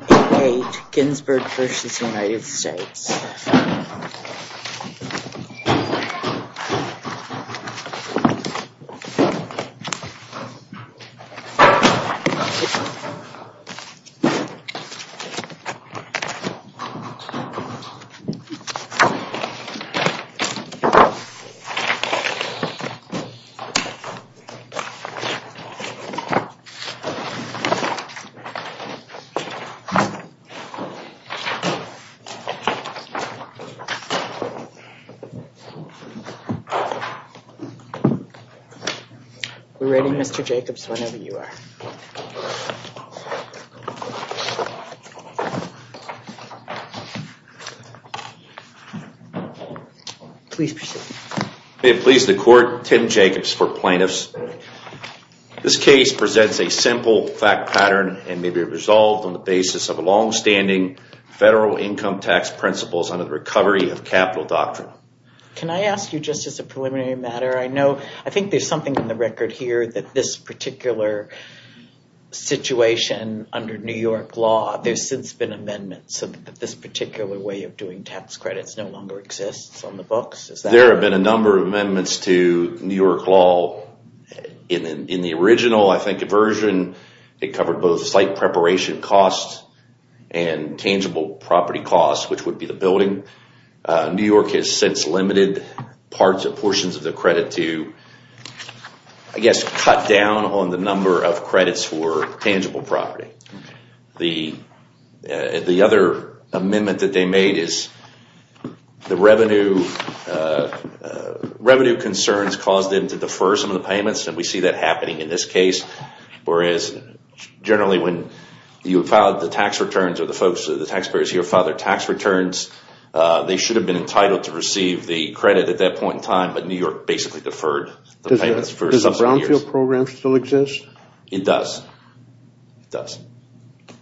8-8 Ginsberg v. United States We're ready, Mr. Jacobs, whenever you are. May it please the Court, Tim Jacobs for plaintiffs. This case presents a simple fact pattern and may be resolved on the basis of a long-standing federal income tax principles under the recovery of capital doctrine. Can I ask you, just as a preliminary matter, I know, I think there's something in the record here that this particular situation under New York law, there's since been amendments so that this particular way of doing tax credits no longer exists on the books? There have been a number of amendments to New York law. In the original, I think, version, it covered both site preparation costs and tangible property costs, which would be the building. New York has since limited parts or portions of the credit to, I guess, cut down on the number of credits for tangible property. The other amendment that they made is the revenue concerns caused them to defer some of the payments, and we see that happening in this case. Whereas, generally, when you filed the tax returns or the folks, the taxpayers here filed their tax returns, they should have been entitled to receive the credit at that point in time, but New York basically deferred the payments for some years. Does the Brownfield program still exist? It does. It does.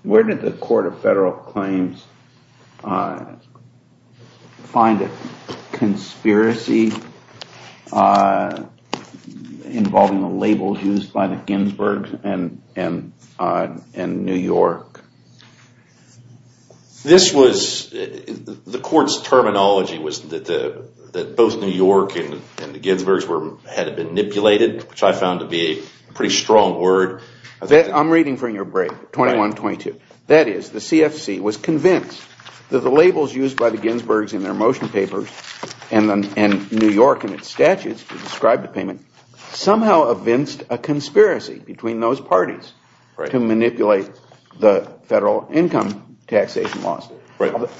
Where did the Court of Federal Claims find a conspiracy involving the labels used by the Ginsbergs and New York? The Court's terminology was that both New York and the Ginsbergs had been manipulated, which I found to be a pretty strong word. I'm reading from your brief, 21-22. That is, the CFC was convinced that the labels used by the Ginsbergs in their motion papers and New York in its statutes to describe the payment somehow evinced a conspiracy between those parties to manipulate the federal income taxation laws.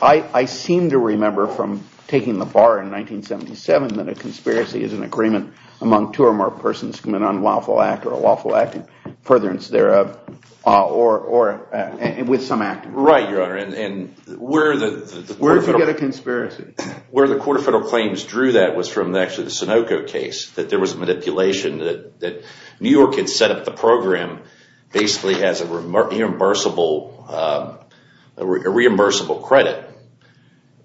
I seem to remember from taking the bar in 1977 that a conspiracy is an agreement among two or more persons from an unlawful act or a lawful act in furtherance thereof or with some act. Right, Your Honor. Where did you get a conspiracy? Where the Court of Federal Claims drew that was from actually the Sunoco case, that there was manipulation, that New York had set up the program basically as a reimbursable credit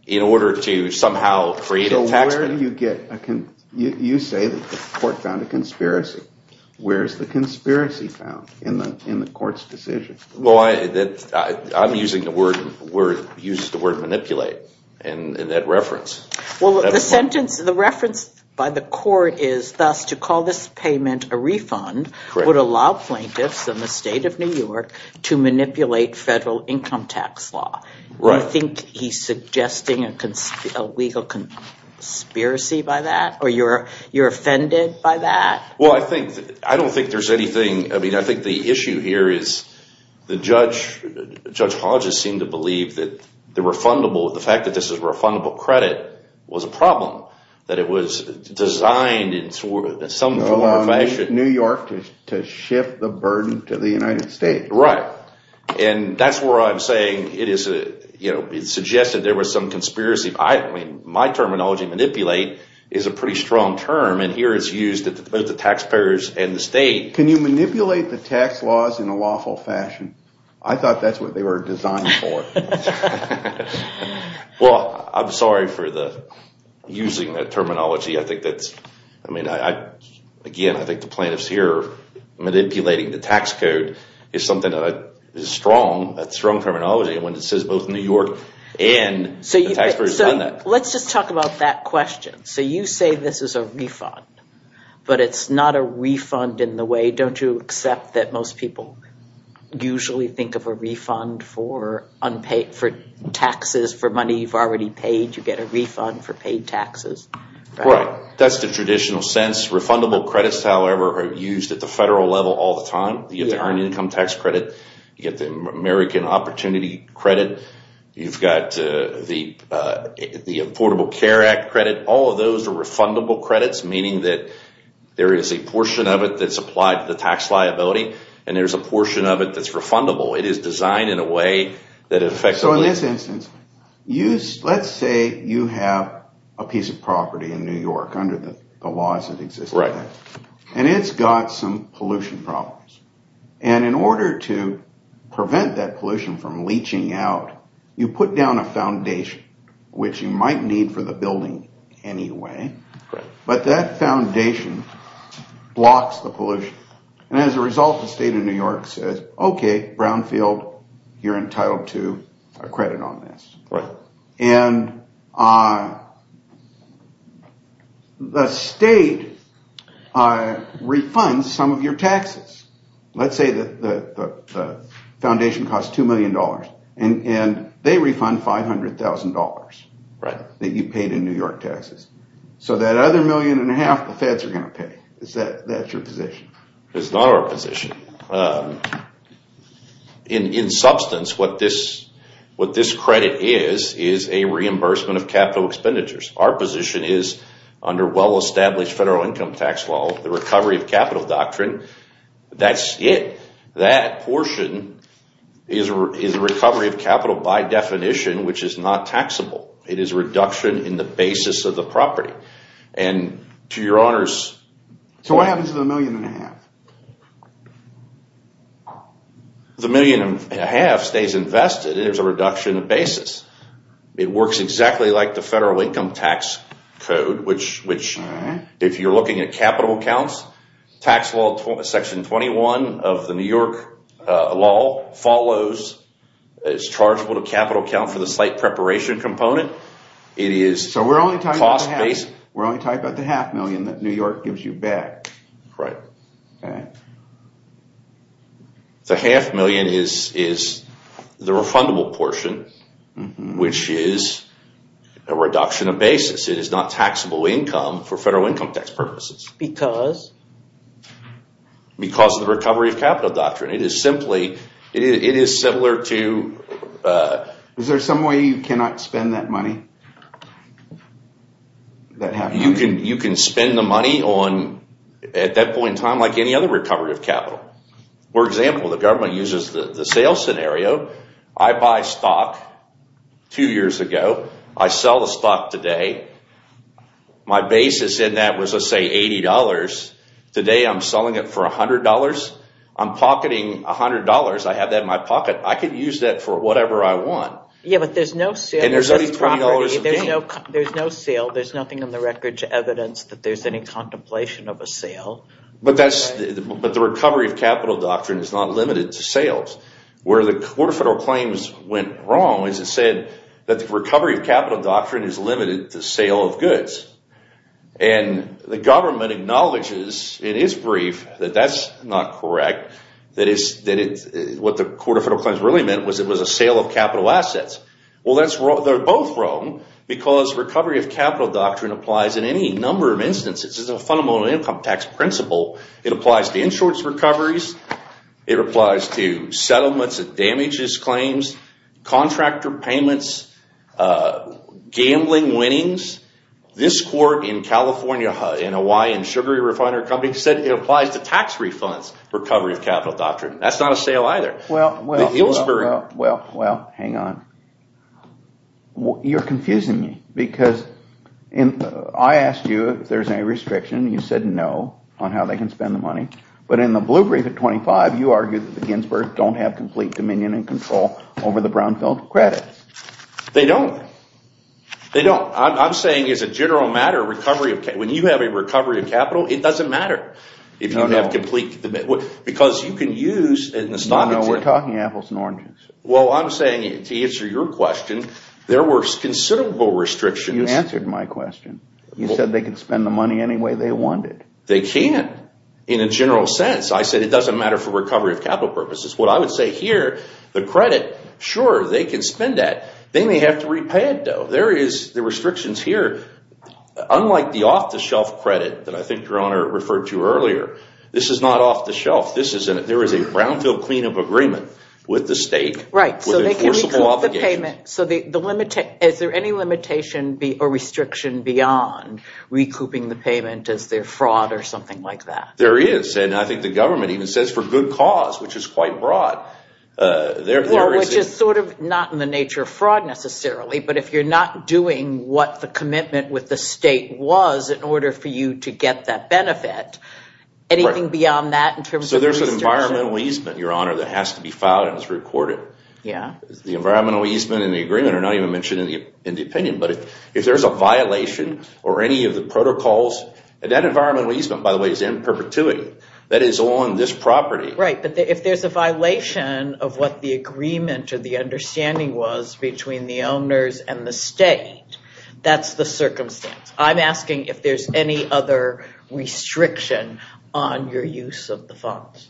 in order to somehow create a tax… So where do you get a conspiracy? You say that the Court found a conspiracy. Where is the conspiracy found in the Court's decision? I'm using the word manipulate in that reference. Well, the sentence, the reference by the Court is thus to call this payment a refund would allow plaintiffs in the state of New York to manipulate federal income tax law. Right. Do you think he's suggesting a legal conspiracy by that or you're offended by that? Well, I think, I don't think there's anything, I mean I think the issue here is the judge, Judge Hodges seemed to believe that the refundable, the fact that this is refundable credit was a problem, that it was designed in some form or fashion… New York to shift the burden to the United States. Right. And that's where I'm saying it is, you know, it's suggested there was some conspiracy. My terminology, manipulate, is a pretty strong term and here it's used at both the taxpayers and the state. Can you manipulate the tax laws in a lawful fashion? I thought that's what they were designed for. Well, I'm sorry for using that terminology. I think that's, I mean, again, I think the plaintiffs here manipulating the tax code is something that is strong, that's strong terminology when it says both New York and the taxpayers have done that. Let's just talk about that question. So you say this is a refund, but it's not a refund in the way, don't you accept that most people usually think of a refund for unpaid, for taxes, for money you've already paid, you get a refund for paid taxes? Right. That's the traditional sense. Refundable credits, however, are used at the federal level all the time. You get the Earned Income Tax Credit. You get the American Opportunity Credit. You've got the Affordable Care Act Credit. All of those are refundable credits, meaning that there is a portion of it that's applied to the tax liability and there's a portion of it that's refundable. It is designed in a way that it affects… So in this instance, let's say you have a piece of property in New York under the laws that exist. And it's got some pollution problems. And in order to prevent that pollution from leaching out, you put down a foundation, which you might need for the building anyway, but that foundation blocks the pollution. And as a result, the state of New York says, okay, Brownfield, you're entitled to a credit on this. And the state refunds some of your taxes. Let's say that the foundation costs $2 million and they refund $500,000 that you paid in New York taxes. So that other million and a half, the feds are going to pay. That's your position. It's not our position. In substance, what this credit is, is a reimbursement of capital expenditures. Our position is under well-established federal income tax law, the recovery of capital doctrine. That's it. That portion is a recovery of capital by definition, which is not taxable. It is a reduction in the basis of the property. And to your honors… So what happens to the million and a half? Right. Okay. The half million is the refundable portion, which is a reduction of basis. It is not taxable income for federal income tax purposes. Because? Because of the recovery of capital doctrine. It is simply, it is similar to… Is there some way you cannot spend that money? You can spend the money on, at that point in time, like any other recovery of capital. For example, the government uses the sales scenario. I buy stock two years ago. I sell the stock today. My basis in that was, let's say, $80. Today I'm selling it for $100. I'm pocketing $100. I have that in my pocket. I could use that for whatever I want. Yeah, but there's no sale. And there's only $20 a day. There's no sale. There's nothing on the record to evidence that there's any contemplation of a sale. But the recovery of capital doctrine is not limited to sales. Where the Court of Federal Claims went wrong is it said that the recovery of capital doctrine is limited to sale of goods. And the government acknowledges in its brief that that's not correct, that what the Court of Federal Claims really meant was it was a sale of capital assets. Well, they're both wrong because recovery of capital doctrine applies in any number of instances. It's a fundamental income tax principle. It applies to insurance recoveries. It applies to settlements that damage these claims, contractor payments, gambling winnings. This court in California, in a Hawaiian sugary refinery company, said it applies to tax refunds, recovery of capital doctrine. That's not a sale either. Well, hang on. You're confusing me because I asked you if there's any restriction. You said no on how they can spend the money. But in the blue brief at 25, you argued that the Ginsburg's don't have complete dominion and control over the brownfield credit. They don't. They don't. I'm saying as a general matter, when you have a recovery of capital, it doesn't matter if you don't have complete dominion. No, no. We're talking apples and oranges. Well, I'm saying to answer your question, there were considerable restrictions. You answered my question. You said they could spend the money any way they wanted. They can't in a general sense. I said it doesn't matter for recovery of capital purposes. What I would say here, the credit, sure, they can spend that. They may have to repay it, though. There is the restrictions here. Unlike the off-the-shelf credit that I think your Honor referred to earlier, this is not off-the-shelf. There is a brownfield cleanup agreement with the state. Right. So they can recoup the payment. So is there any limitation or restriction beyond recouping the payment as their fraud or something like that? There is. And I think the government even says for good cause, which is quite broad. Which is sort of not in the nature of fraud necessarily, but if you're not doing what the commitment with the state was in order for you to get that benefit, anything beyond that in terms of the restriction? So there's an environmental easement, your Honor, that has to be filed and is recorded. Yeah. The environmental easement and the agreement are not even mentioned in the opinion. But if there's a violation or any of the protocols, and that environmental easement, by the way, is in perpetuity. That is on this property. Right. But if there's a violation of what the agreement or the understanding was between the owners and the state, that's the circumstance. I'm asking if there's any other restriction on your use of the funds.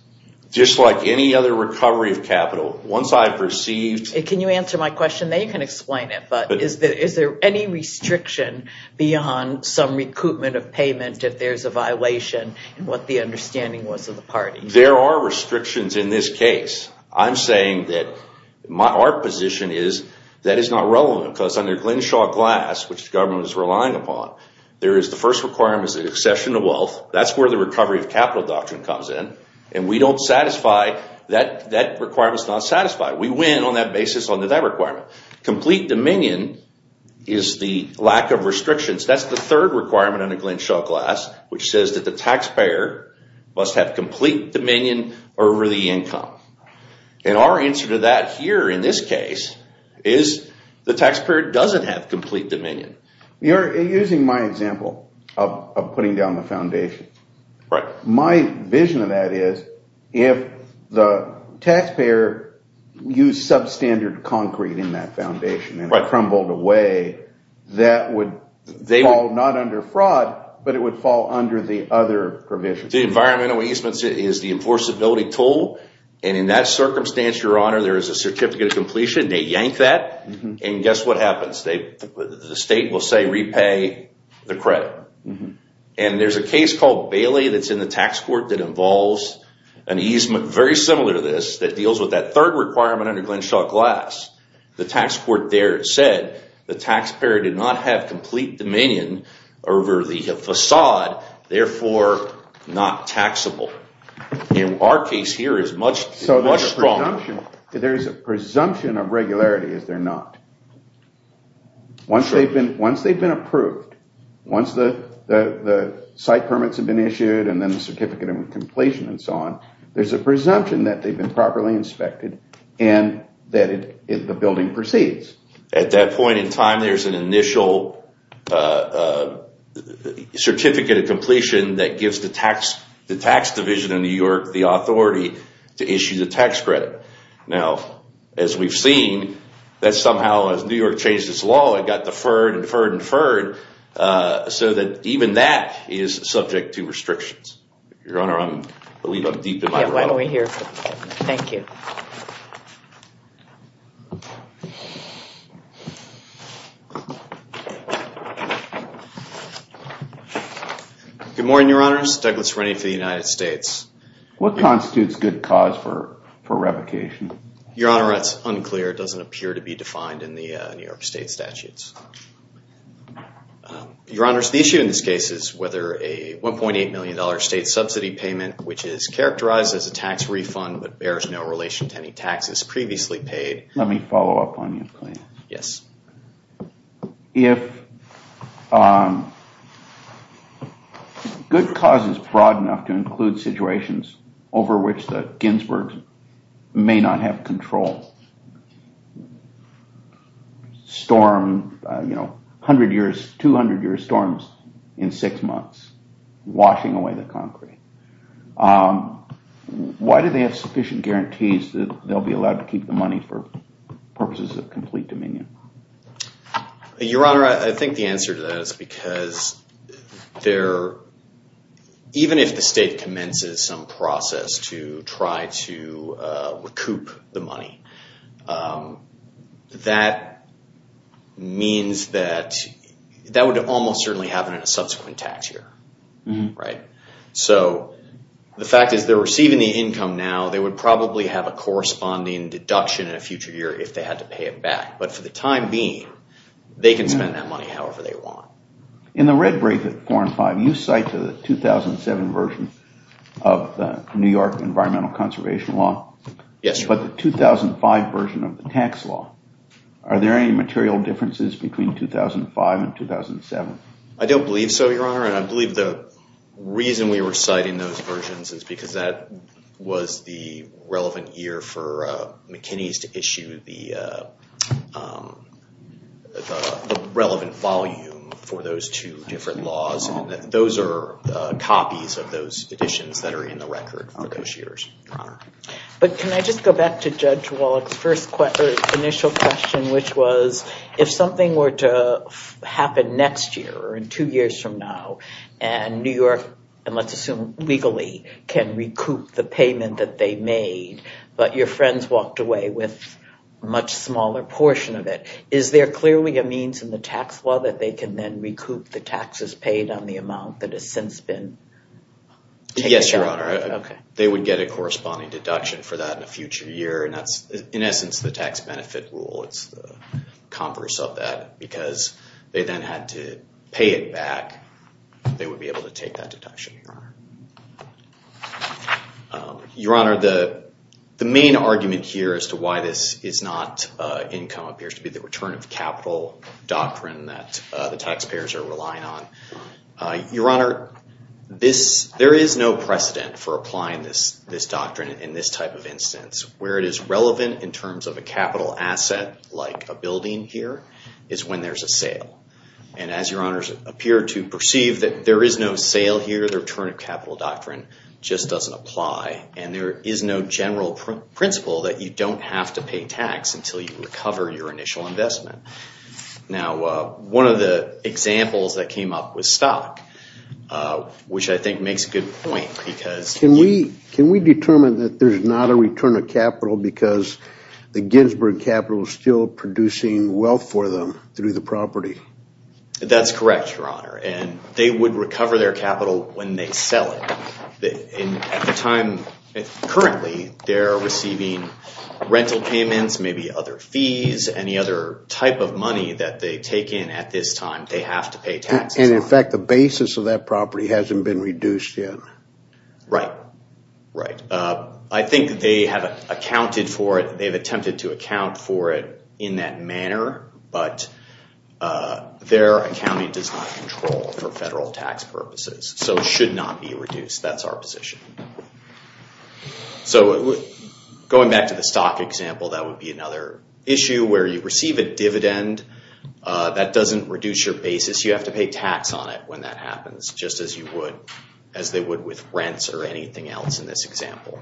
Just like any other recovery of capital. Once I've received... Can you answer my question? Then you can explain it. But is there any restriction beyond some recoupment of payment if there's a violation in what the understanding was of the parties? There are restrictions in this case. I'm saying that our position is that is not relevant because under Glenshaw Glass, which the government is relying upon, there is the first requirement is the accession of wealth. That's where the recovery of capital doctrine comes in. And we don't satisfy... That requirement is not satisfied. We win on that basis under that requirement. Complete dominion is the lack of restrictions. That's the third requirement under Glenshaw Glass, which says that the taxpayer must have complete dominion over the income. And our answer to that here in this case is the taxpayer doesn't have complete dominion. You're using my example of putting down the foundation. Right. My vision of that is if the taxpayer used substandard concrete in that foundation and it crumbled away, that would fall not under fraud, but it would fall under the other provisions. The environmental easements is the enforceability tool. And in that circumstance, your honor, there is a certificate of completion. They yank that. And guess what happens? The state will say repay the credit. And there's a case called Bailey that's in the tax court that involves an easement very similar to this that deals with that third requirement under Glenshaw Glass. The tax court there said the taxpayer did not have complete dominion over the facade, therefore not taxable. And our case here is much stronger. So there's a presumption of regularity, is there not? Once they've been approved, once the site permits have been issued and then the certificate of completion and so on, there's a presumption that they've been properly inspected and that the building proceeds. At that point in time, there's an initial certificate of completion that gives the tax division in New York the authority to issue the tax credit. Now, as we've seen, that somehow as New York changed its law, it got deferred and deferred and deferred so that even that is subject to restrictions. Your honor, I believe I'm deep in my realm. Yeah, why don't we hear from him. Thank you. Good morning, your honors. Douglas Rennie for the United States. What constitutes good cause for revocation? Your honor, that's unclear. It doesn't appear to be defined in the New York state statutes. Your honors, the issue in this case is whether a $1.8 million state subsidy payment, which is characterized as a tax refund but bears no relation to any taxes previously paid. Let me follow up on you, please. Yes. If good cause is broad enough to include situations over which the Ginsbergs may not have control, storm, you know, 100 years, 200 years storms in 6 months, washing away the concrete. Why do they have sufficient guarantees that they'll be allowed to keep the money for purposes of complete dominion? Your honor, I think the answer to that is because even if the state commences some process to try to recoup the money, that means that that would almost certainly happen in a subsequent tax year. So the fact is they're receiving the income now. They would probably have a corresponding deduction in a future year if they had to pay it back. But for the time being, they can spend that money however they want. In the red brief at 4 and 5, you cite the 2007 version of the New York environmental conservation law. Yes, your honor. But the 2005 version of the tax law, are there any material differences between 2005 and 2007? I don't believe so, your honor. And I believe the reason we were citing those versions is because that was the relevant year for McKinney's to issue the relevant volume for those two different laws. Those are copies of those editions that are in the record for those years, your honor. But can I just go back to Judge Wallach's initial question, which was if something were to happen next year or two years from now, and New York, and let's assume legally, can recoup the payment that they made, but your friends walked away with a much smaller portion of it. Is there clearly a means in the tax law that they can then recoup the taxes paid on the amount that has since been taken out? No, your honor. They would get a corresponding deduction for that in a future year, and that's, in essence, the tax benefit rule. It's the converse of that, because they then had to pay it back. They would be able to take that deduction, your honor. Your honor, the main argument here as to why this is not income appears to be the return of capital doctrine that the taxpayers are relying on. Your honor, there is no precedent for applying this doctrine in this type of instance. Where it is relevant in terms of a capital asset, like a building here, is when there's a sale. And as your honors appear to perceive that there is no sale here, the return of capital doctrine just doesn't apply. And there is no general principle that you don't have to pay tax until you recover your initial investment. Now, one of the examples that came up was stock, which I think makes a good point. Can we determine that there's not a return of capital because the Ginsburg Capital is still producing wealth for them through the property? That's correct, your honor. And they would recover their capital when they sell it. Currently, they're receiving rental payments, maybe other fees, any other type of money that they take in at this time they have to pay taxes on. And in fact, the basis of that property hasn't been reduced yet. Right, right. I think they have accounted for it. They've attempted to account for it in that manner, but their accounting does not control for federal tax purposes. So it should not be reduced. That's our position. So going back to the stock example, that would be another issue where you receive a dividend. That doesn't reduce your basis. You have to pay tax on it when that happens, just as they would with rents or anything else in this example.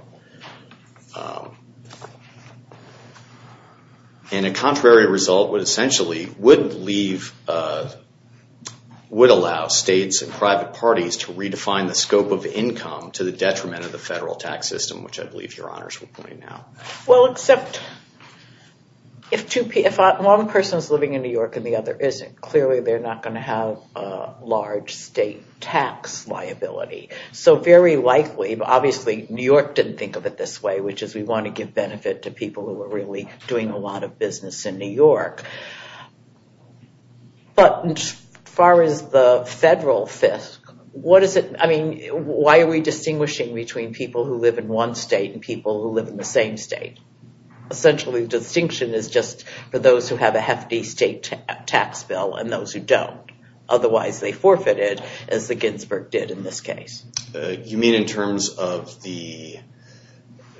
And a contrary result would essentially allow states and private parties to redefine the scope of income to the detriment of the federal tax system, which I believe your honors would point out. Well, except if one person is living in New York and the other isn't, clearly they're not going to have a large state tax liability. So very likely, but obviously New York didn't think of it this way, which is we want to give benefit to people who are really doing a lot of business in New York. But as far as the federal fiscal, what is it? I mean, why are we distinguishing between people who live in one state and people who live in the same state? Essentially, the distinction is just for those who have a hefty state tax bill and those who don't. Otherwise, they forfeited as the Ginsburg did in this case. You mean in terms of the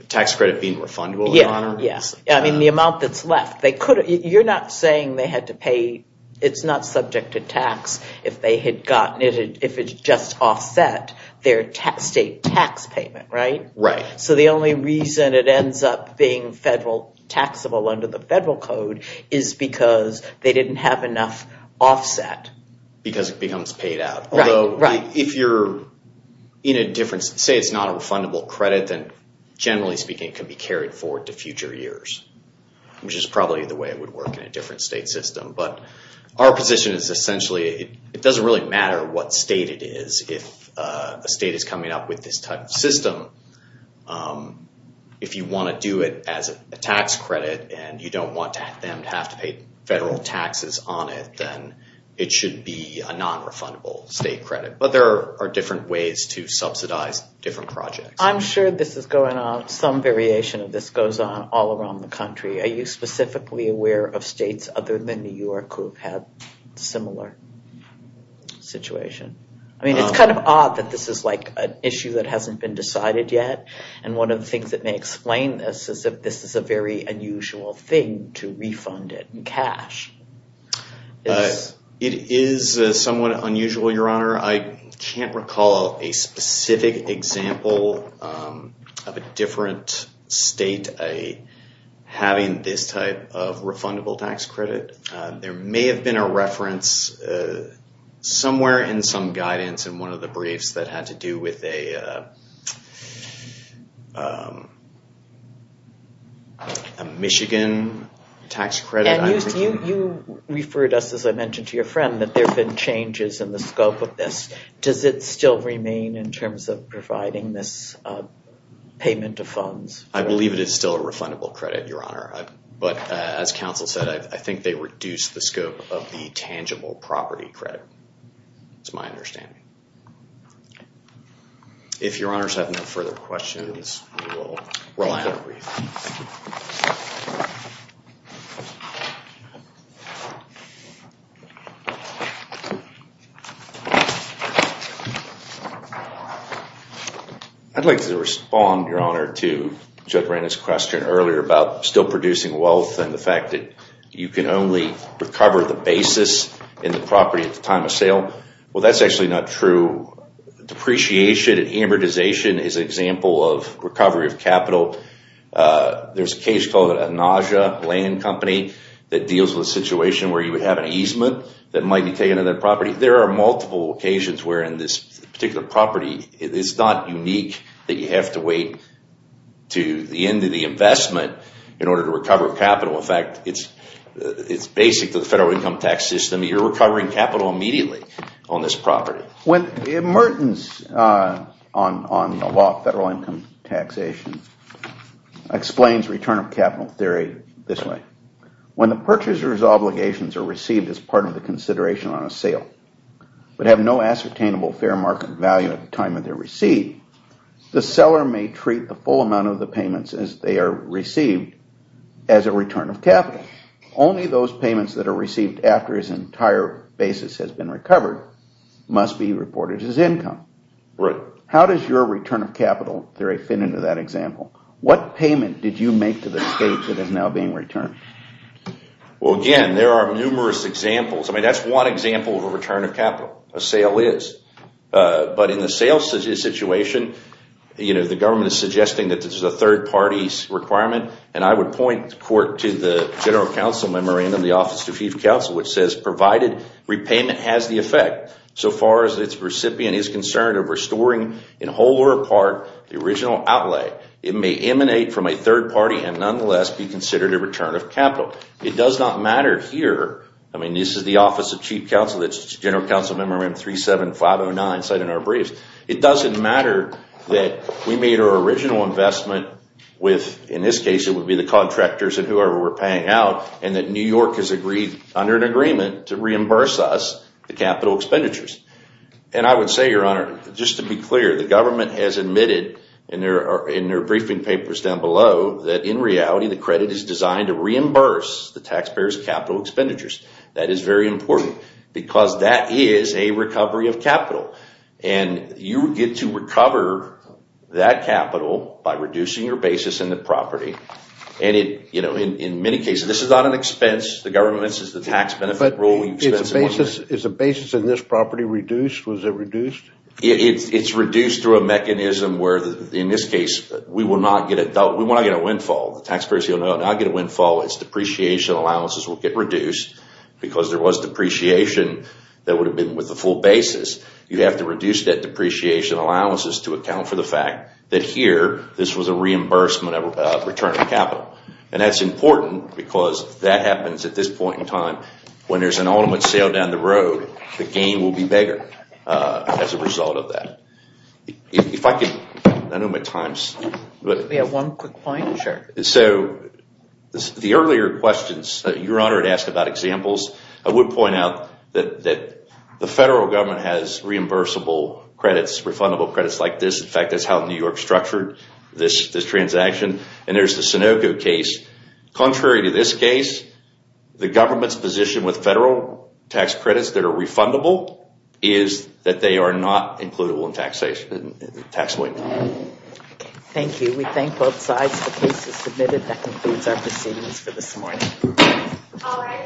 tax credit being refundable? Yeah, yeah. I mean, the amount that's left. You're not saying they had to pay. It's not subject to tax if they had gotten it, if it's just offset their state tax payment, right? Right. So the only reason it ends up being taxable under the federal code is because they didn't have enough offset. Because it becomes paid out. Although, if you're in a different, say it's not a refundable credit, then generally speaking, it could be carried forward to future years, which is probably the way it would work in a different state system. But our position is essentially it doesn't really matter what state it is. If a state is coming up with this type of system, if you want to do it as a tax credit and you don't want them to have to pay federal taxes on it, then it should be a non-refundable state credit. But there are different ways to subsidize different projects. I'm sure this is going on. Some variation of this goes on all around the country. Are you specifically aware of states other than New York who have had a similar situation? I mean, it's kind of odd that this is like an issue that hasn't been decided yet. And one of the things that may explain this is that this is a very unusual thing to refund it in cash. It is somewhat unusual, Your Honor. I can't recall a specific example of a different state having this type of refundable tax credit. There may have been a reference somewhere in some guidance in one of the briefs that had to do with a Michigan tax credit. You referred us, as I mentioned to your friend, that there have been changes in the scope of this. Does it still remain in terms of providing this payment of funds? I believe it is still a refundable credit, Your Honor. But as counsel said, I think they reduced the scope of the tangible property credit. That's my understanding. If Your Honors have no further questions, we will wrap up the brief. I'd like to respond, Your Honor, to Judge Randall's question earlier about still producing wealth and the fact that you can only recover the basis in the property at the time of sale. Well, that's actually not true. Depreciation and amortization is an example of recovery of capital. There's a case called a nausea land company that deals with a situation where you would have an easement that might be taken on that property. There are multiple occasions wherein this particular property is not unique that you have to wait to the end of the investment in order to recover capital. In fact, it's basic to the federal income tax system. You're recovering capital immediately on this property. When the emergence on the law of federal income taxation explains return of capital theory this way, when the purchaser's obligations are received as part of the consideration on a sale but have no ascertainable fair market value at the time of their receipt, the seller may treat the full amount of the payments as they are received as a return of capital. Only those payments that are received after his entire basis has been recovered must be reported as income. Right. How does your return of capital theory fit into that example? What payment did you make to the state that is now being returned? Well, again, there are numerous examples. I mean, that's one example of a return of capital, a sale is. But in the sales situation, the government is suggesting that this is a third party's requirement and I would point the court to the General Counsel Memorandum, the Office of Chief Counsel, which says provided repayment has the effect so far as its recipient is concerned of restoring in whole or part the original outlay, it may emanate from a third party and nonetheless be considered a return of capital. It does not matter here. I mean, this is the Office of Chief Counsel. It's General Counsel Memorandum 37509 cited in our briefs. It doesn't matter that we made our original investment with, in this case, it would be the contractors and whoever we're paying out and that New York has agreed under an agreement to reimburse us the capital expenditures. And I would say, Your Honor, just to be clear, the government has admitted in their briefing papers down below that in reality the credit is designed to reimburse the taxpayers' capital expenditures. And you get to recover that capital by reducing your basis in the property. And in many cases, this is not an expense. The government says the tax benefit rule. But is the basis in this property reduced? Was it reduced? It's reduced through a mechanism where, in this case, we will not get a windfall. The taxpayers will not get a windfall. Its depreciation allowances will get reduced because there was depreciation that would have been with the full basis. You have to reduce that depreciation allowances to account for the fact that here, this was a reimbursement of return of capital. And that's important because that happens at this point in time. When there's an ultimate sale down the road, the gain will be bigger as a result of that. If I could, I don't have my times. We have one quick point. Sure. So the earlier questions, Your Honor had asked about examples. I would point out that the federal government has reimbursable credits, refundable credits like this. In fact, that's how New York structured this transaction. And there's the Sunoco case. Contrary to this case, the government's position with federal tax credits that are refundable is that they are not includable in taxable income. Thank you. We thank both sides. The case is submitted. That concludes our proceedings for this morning. All rise.